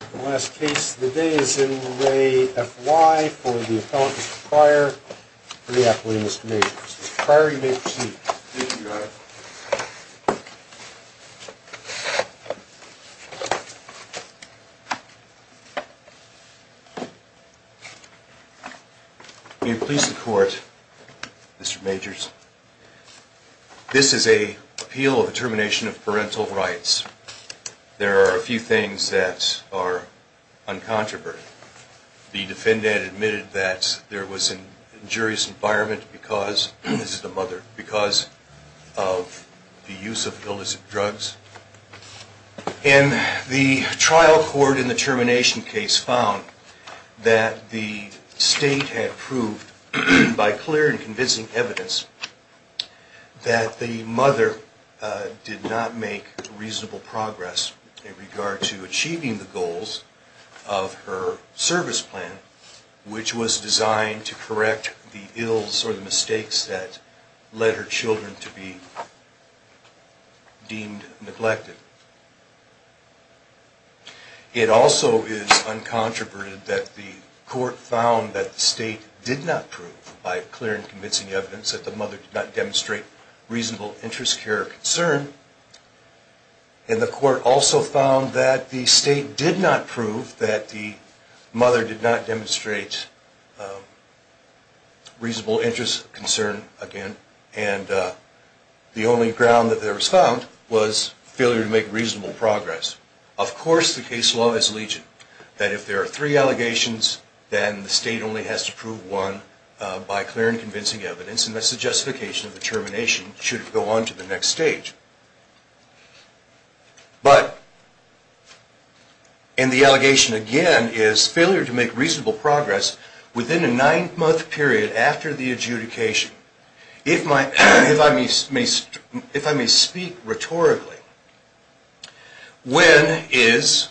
The last case of the day is in re F.Y. for the appellant, Mr. Pryor, for the appellate, Mr. Majors. Mr. Pryor, you may proceed. Thank you, Your Honor. May it please the Court, Mr. Majors, this is an appeal of the termination of parental rights. There are a few things that are uncontroverted. The defendant admitted that there was an injurious environment because, this is the mother, because of the use of illicit drugs. And the trial court in the termination case found that the state had proved, by clear and convincing evidence, that the mother did not make reasonable progress in regard to achieving the goals of her service plan, which was designed to correct the ills or the mistakes that led her children to be deemed neglected. It also is uncontroverted that the court found that the state did not prove, by clear and convincing evidence, that the mother did not demonstrate reasonable interest, care, or concern. And the court also found that the state did not prove that the mother did not demonstrate reasonable interest, concern, again. And the only ground that there was found was failure to make reasonable progress. Of course, the case law is legion, that if there are three allegations, then the state only has to prove one, by clear and convincing evidence, and that's the justification of the termination, should it go on to the next stage. But, and the allegation, again, is failure to make reasonable progress within a nine-month period after the adjudication. If I may speak rhetorically, when is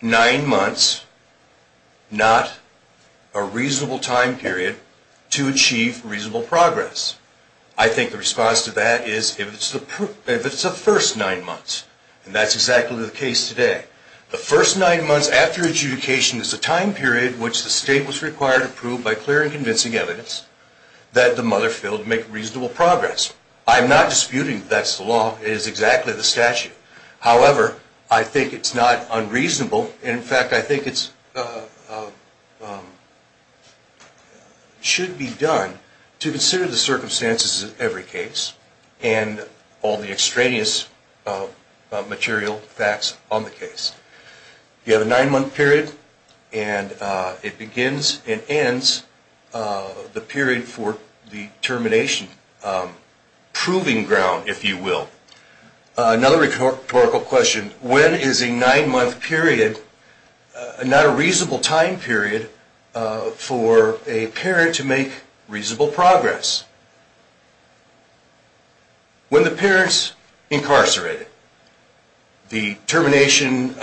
nine months not a reasonable time period to achieve reasonable progress? I think the response to that is if it's the first nine months, and that's exactly the case today. The first nine months after adjudication is the time period which the state was required to prove, by clear and convincing evidence, that the mother failed to make reasonable progress. I'm not disputing that's the law, it is exactly the statute. However, I think it's not unreasonable, in fact, I think it should be done to consider the circumstances of every case, and all the extraneous material facts on the case. You have a nine-month period, and it begins and ends the period for the termination, proving ground, if you will. Another rhetorical question, when is a nine-month period not a reasonable time period for a parent to make reasonable progress? When the parent's incarcerated. The termination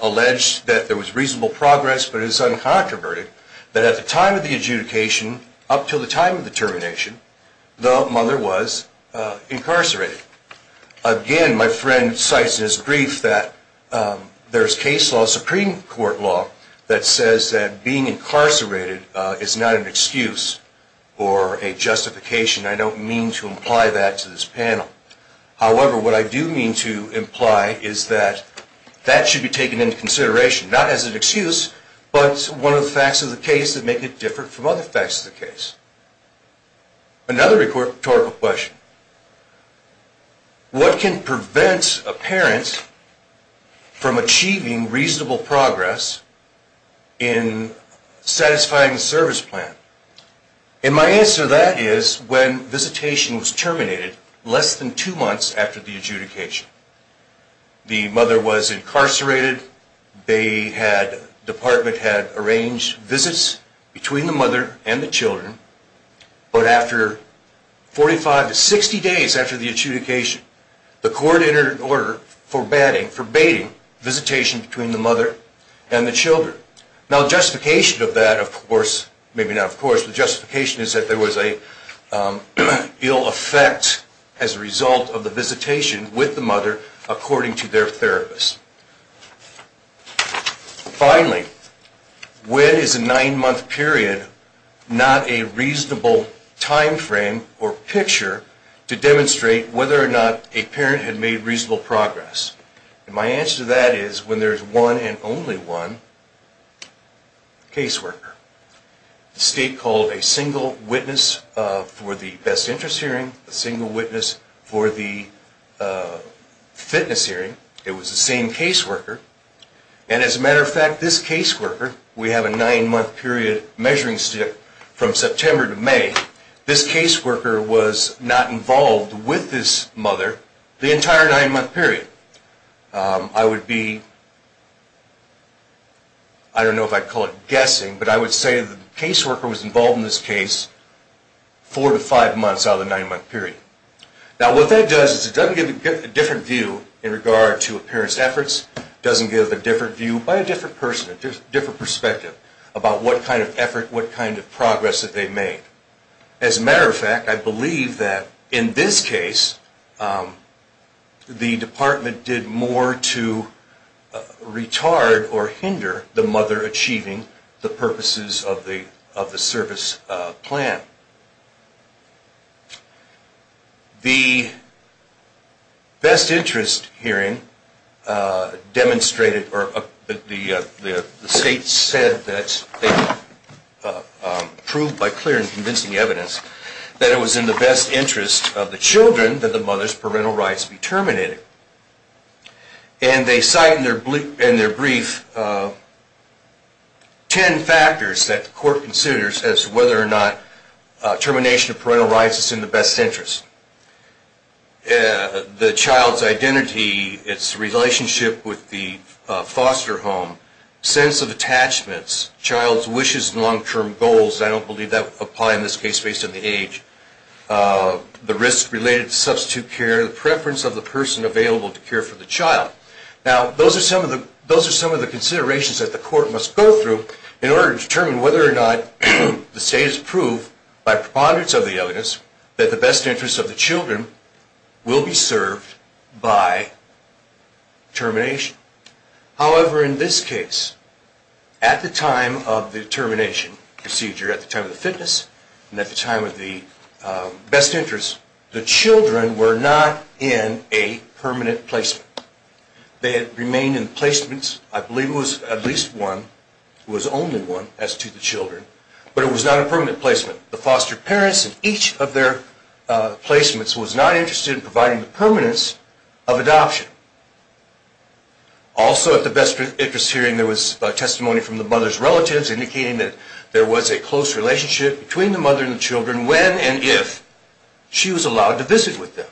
alleged that there was reasonable progress, but it is uncontroverted that at the time of the adjudication, up until the time of the termination, the mother was incarcerated. Again, my friend cites in his brief that there's case law, Supreme Court law, that says that being incarcerated is not an excuse or a justification. I don't mean to imply that to this panel. However, what I do mean to imply is that that should be taken into consideration, not as an excuse, but one of the facts of the case that make it different from other facts of the case. Another rhetorical question, what can prevent a parent from achieving reasonable progress in satisfying the service plan? And my answer to that is when visitation was terminated less than two months after the adjudication. The mother was incarcerated. The department had arranged visits between the mother and the children. But after 45 to 60 days after the adjudication, the court entered an order for banning, forbading visitation between the mother and the children. Now the justification of that, of course, maybe not of course, the justification is that there was an ill effect as a result of the visitation with the mother according to their therapist. Finally, when is a nine-month period not a reasonable time frame or picture to demonstrate whether or not a parent had made reasonable progress? And my answer to that is when there's one and only one caseworker. The state called a single witness for the best interest hearing, a single witness for the fitness hearing. It was the same caseworker. And as a matter of fact, this caseworker, we have a nine-month period measuring stick from September to May. This caseworker was not involved with this mother the entire nine-month period. I would be, I don't know if I'd call it guessing, but I would say the caseworker was involved in this case four to five months out of the nine-month period. Now what that does is it doesn't give a different view in regard to a parent's efforts, doesn't give a different view by a different person, a different perspective about what kind of effort, what kind of progress that they made. As a matter of fact, I believe that in this case the department did more to retard or hinder the mother achieving the purposes of the service plan. The best interest hearing demonstrated or the state said that they proved by clear and convincing evidence that it was in the best interest of the children that the mother's parental rights be terminated. And they cite in their brief ten factors that the court considers as to whether or not termination of parental rights is in the best interest. The child's identity, its relationship with the foster home, sense of attachments, child's wishes and long-term goals. I don't believe that would apply in this case based on the age. The risk related to substitute care, the preference of the person available to care for the child. Now those are some of the considerations that the court must go through in order to determine whether or not the state has proved by preponderance of the evidence that the best interest of the children will be served by termination. However, in this case, at the time of the termination procedure, at the time of the fitness and at the time of the best interest, the children were not in a permanent placement. They had remained in placements, I believe it was at least one, it was only one as to the children, but it was not a permanent placement. The foster parents in each of their placements was not interested in providing the permanence of adoption. Also at the best interest hearing there was testimony from the mother's relatives indicating that there was a close relationship between the mother and the children when and if she was allowed to visit with them.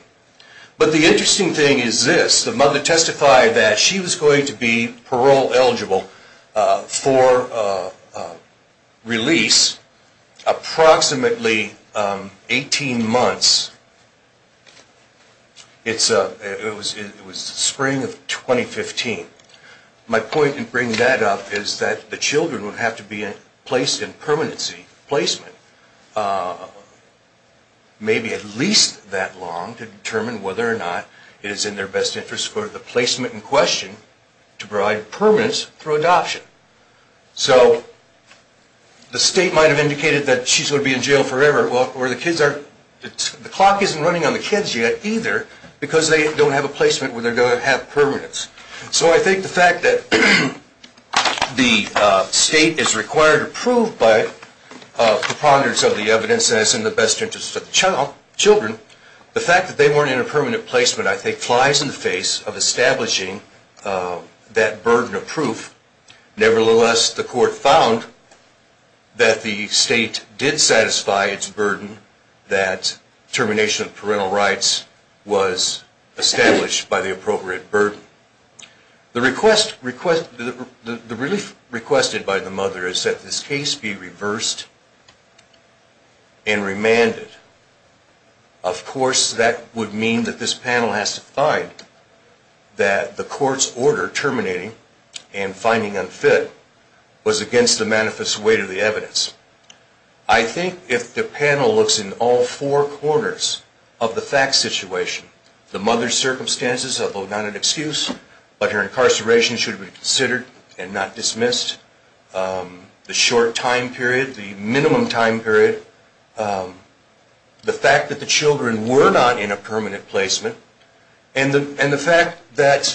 But the interesting thing is this, the mother testified that she was going to be parole eligible for release approximately 18 months. It was the spring of 2015. My point in bringing that up is that the children would have to be placed in permanency placement maybe at least that long to determine whether or not it is in their best interest for the placement in question to provide permanence for adoption. So the state might have indicated that she's going to be in jail forever. The clock isn't running on the kids yet either because they don't have a placement where they're going to have permanence. So I think the fact that the state is required to prove by preponderance of the evidence that it's in the best interest of the children, the fact that they weren't in a permanent placement I think flies in the face of establishing that burden of proof. Nevertheless, the court found that the state did satisfy its burden that termination of parental rights was established by the appropriate burden. The relief requested by the mother is that this case be reversed and remanded. Of course, that would mean that this panel has to find that the court's order terminating and finding unfit was against the manifest weight of the evidence. I think if the panel looks in all four corners of the fact situation, the mother's circumstances, although not an excuse, but her incarceration should be considered and not dismissed, the short time period, the minimum time period, the fact that the children were not in a permanent placement, and the fact that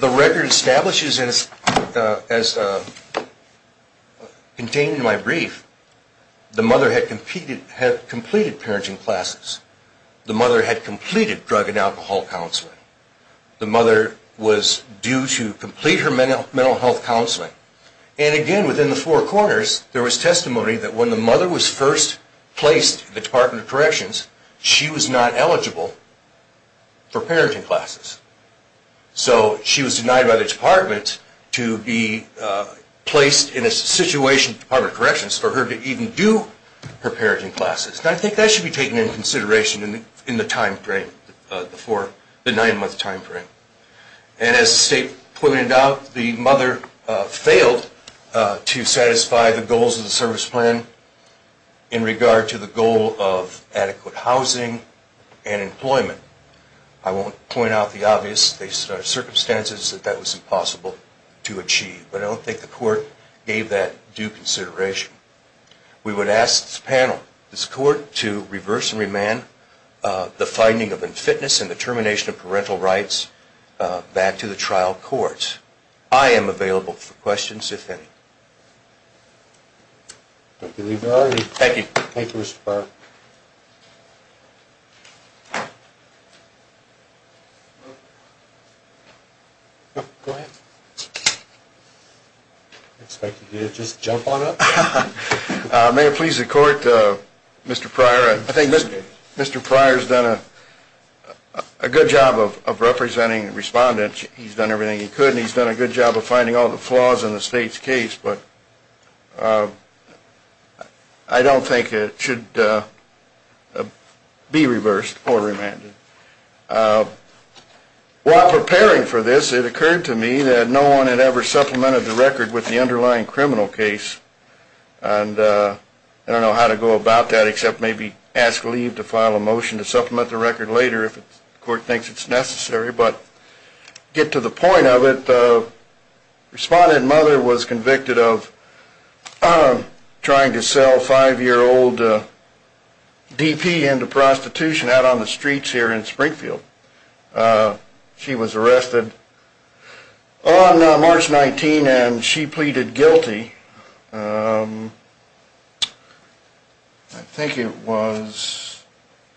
the record establishes as contained in my brief, the mother had completed parenting classes. The mother had completed drug and alcohol counseling. The mother was due to complete her mental health counseling. And again, within the four corners, there was testimony that when the mother was first placed in the Department of Corrections, she was not eligible for parenting classes. So she was denied by the department to be placed in a situation in the Department of Corrections for her to even do her parenting classes. And I think that should be taken into consideration in the time frame, the nine-month time frame. And as the state pointed out, the mother failed to satisfy the goals of the service plan in regard to the goal of adequate housing and employment. I won't point out the obvious circumstances that that was impossible to achieve, but I don't think the court gave that due consideration. We would ask this panel, this court, to reverse and remand the finding of unfitness and the termination of parental rights back to the trial courts. I am available for questions, if any. Thank you. Thank you, Mr. Pryor. May it please the court, Mr. Pryor, I think Mr. Pryor has done a good job of representing respondents. He's done everything he could, and he's done a good job of finding all the flaws in the state's case. But I don't think it should be reversed or remanded. While preparing for this, it occurred to me that no one had ever supplemented the record with the underlying criminal case. And I don't know how to go about that except maybe ask leave to file a motion to supplement the record later if the court thinks it's necessary. But to get to the point of it, the respondent mother was convicted of trying to sell five-year-old DP into prostitution out on the streets here in Springfield. She was arrested on March 19, and she pleaded guilty. I think it was,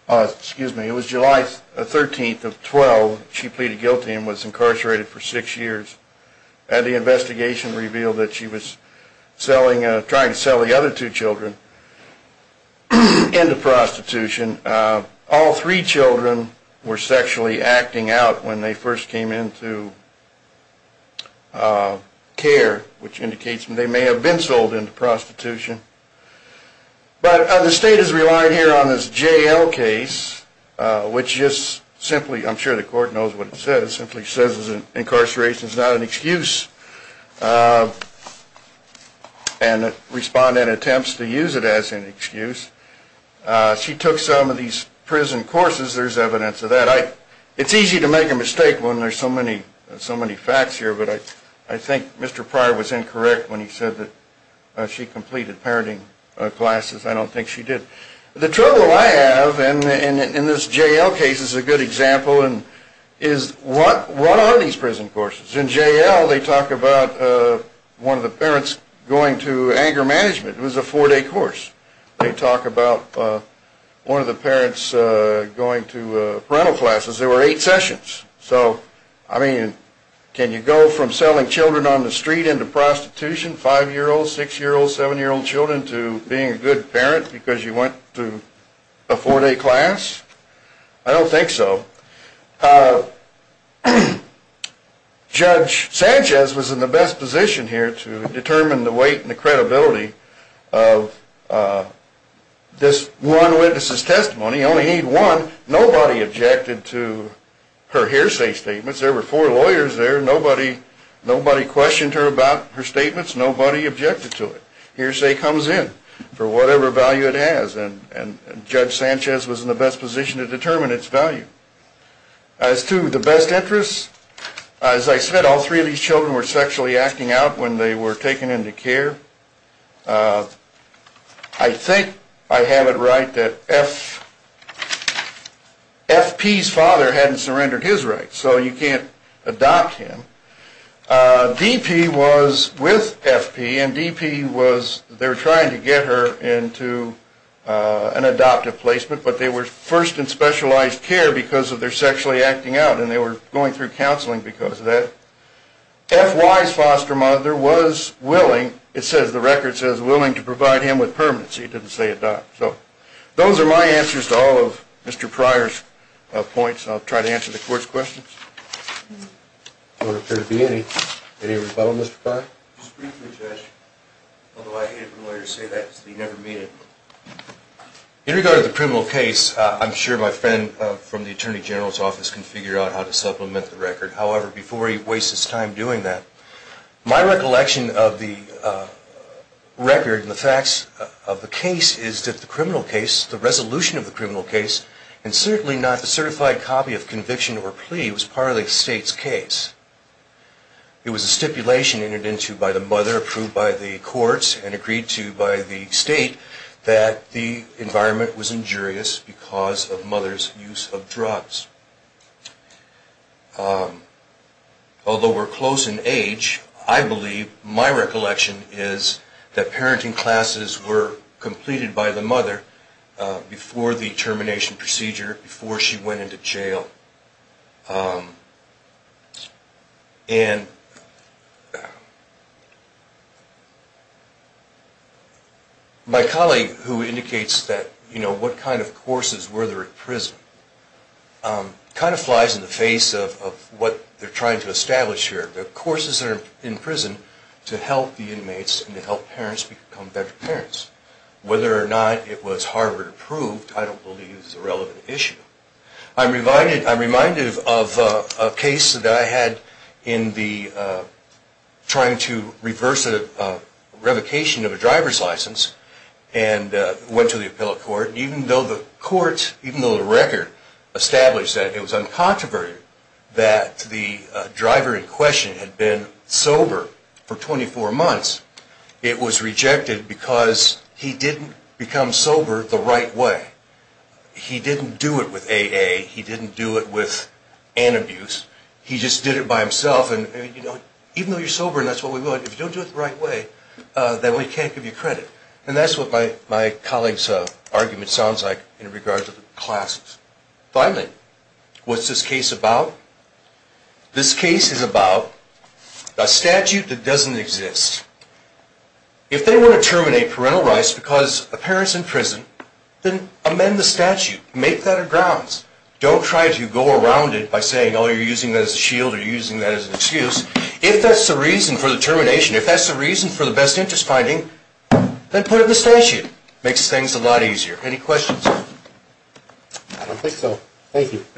excuse me, it was July 13th of 12, she pleaded guilty and was incarcerated for six years. And the investigation revealed that she was trying to sell the other two children into prostitution. And all three children were sexually acting out when they first came into care, which indicates they may have been sold into prostitution. But the state is relying here on this JL case, which just simply, I'm sure the court knows what it says, simply says incarceration is not an excuse. And the respondent attempts to use it as an excuse. She took some of these prison courses, there's evidence of that. It's easy to make a mistake when there's so many facts here, but I think Mr. Pryor was incorrect when he said that she completed parenting classes. I don't think she did. The trouble I have in this JL case is a good example, is what are these prison courses? In JL they talk about one of the parents going to anger management, it was a four-day course. They talk about one of the parents going to parental classes, there were eight sessions. So, I mean, can you go from selling children on the street into prostitution, five-year-olds, six-year-olds, seven-year-old children, to being a good parent because you went to a four-day class? I don't think so. Judge Sanchez was in the best position here to determine the weight and the credibility of this one witness' testimony. You only need one. Nobody objected to her hearsay statements. There were four lawyers there. Nobody questioned her about her statements. Nobody objected to it. But the hearsay comes in for whatever value it has, and Judge Sanchez was in the best position to determine its value. As to the best interests, as I said, all three of these children were sexually acting out when they were taken into care. I think I have it right that FP's father hadn't surrendered his rights, so you can't adopt him. DP was with FP, and DP was, they were trying to get her into an adoptive placement, but they were first in specialized care because of their sexually acting out, and they were going through counseling because of that. FY's foster mother was willing, it says, the record says, willing to provide him with permanency. It didn't say adopt. So those are my answers to all of Mr. Pryor's points, and I'll try to answer the Court's questions. Does there appear to be any rebuttal, Mr. Pryor? Just briefly, Judge, although I hate it when lawyers say that because they never mean it. In regard to the criminal case, I'm sure my friend from the Attorney General's office can figure out how to supplement the record. However, before he wastes his time doing that, my recollection of the record and the facts of the case is that the criminal case, the resolution of the criminal case, and certainly not the certified copy of conviction or plea was part of the State's case. It was a stipulation entered into by the mother, approved by the courts, and agreed to by the State, that the environment was injurious because of mother's use of drugs. Although we're close in age, I believe my recollection is that parenting classes were completed by the mother before the termination procedure, before she went into jail. And my colleague who indicates that, you know, what kind of courses were there at prison, kind of flies in the face of what they're trying to establish here. The courses are in prison to help the inmates and to help parents become better parents. Whether or not it was Harvard-approved, I don't believe is a relevant issue. I'm reminded of a case that I had in trying to reverse a revocation of a driver's license and went to the appellate court, and even though the court, even though the record established that it was uncontroverted, that the driver in question had been sober for 24 months, it was rejected because he didn't become sober the right way. He didn't do it with AA. He didn't do it with an abuse. He just did it by himself, and even though you're sober and that's what we want, if you don't do it the right way, then we can't give you credit. And that's what my colleague's argument sounds like in regards to the classes. Finally, what's this case about? This case is about a statute that doesn't exist. If they want to terminate parental rights because a parent's in prison, then amend the statute. Make that a grounds. Don't try to go around it by saying, oh, you're using that as a shield or you're using that as an excuse. If that's the reason for the termination, if that's the reason for the best interest finding, then put it in the statute. Makes things a lot easier. Any questions? I think so. Thank you.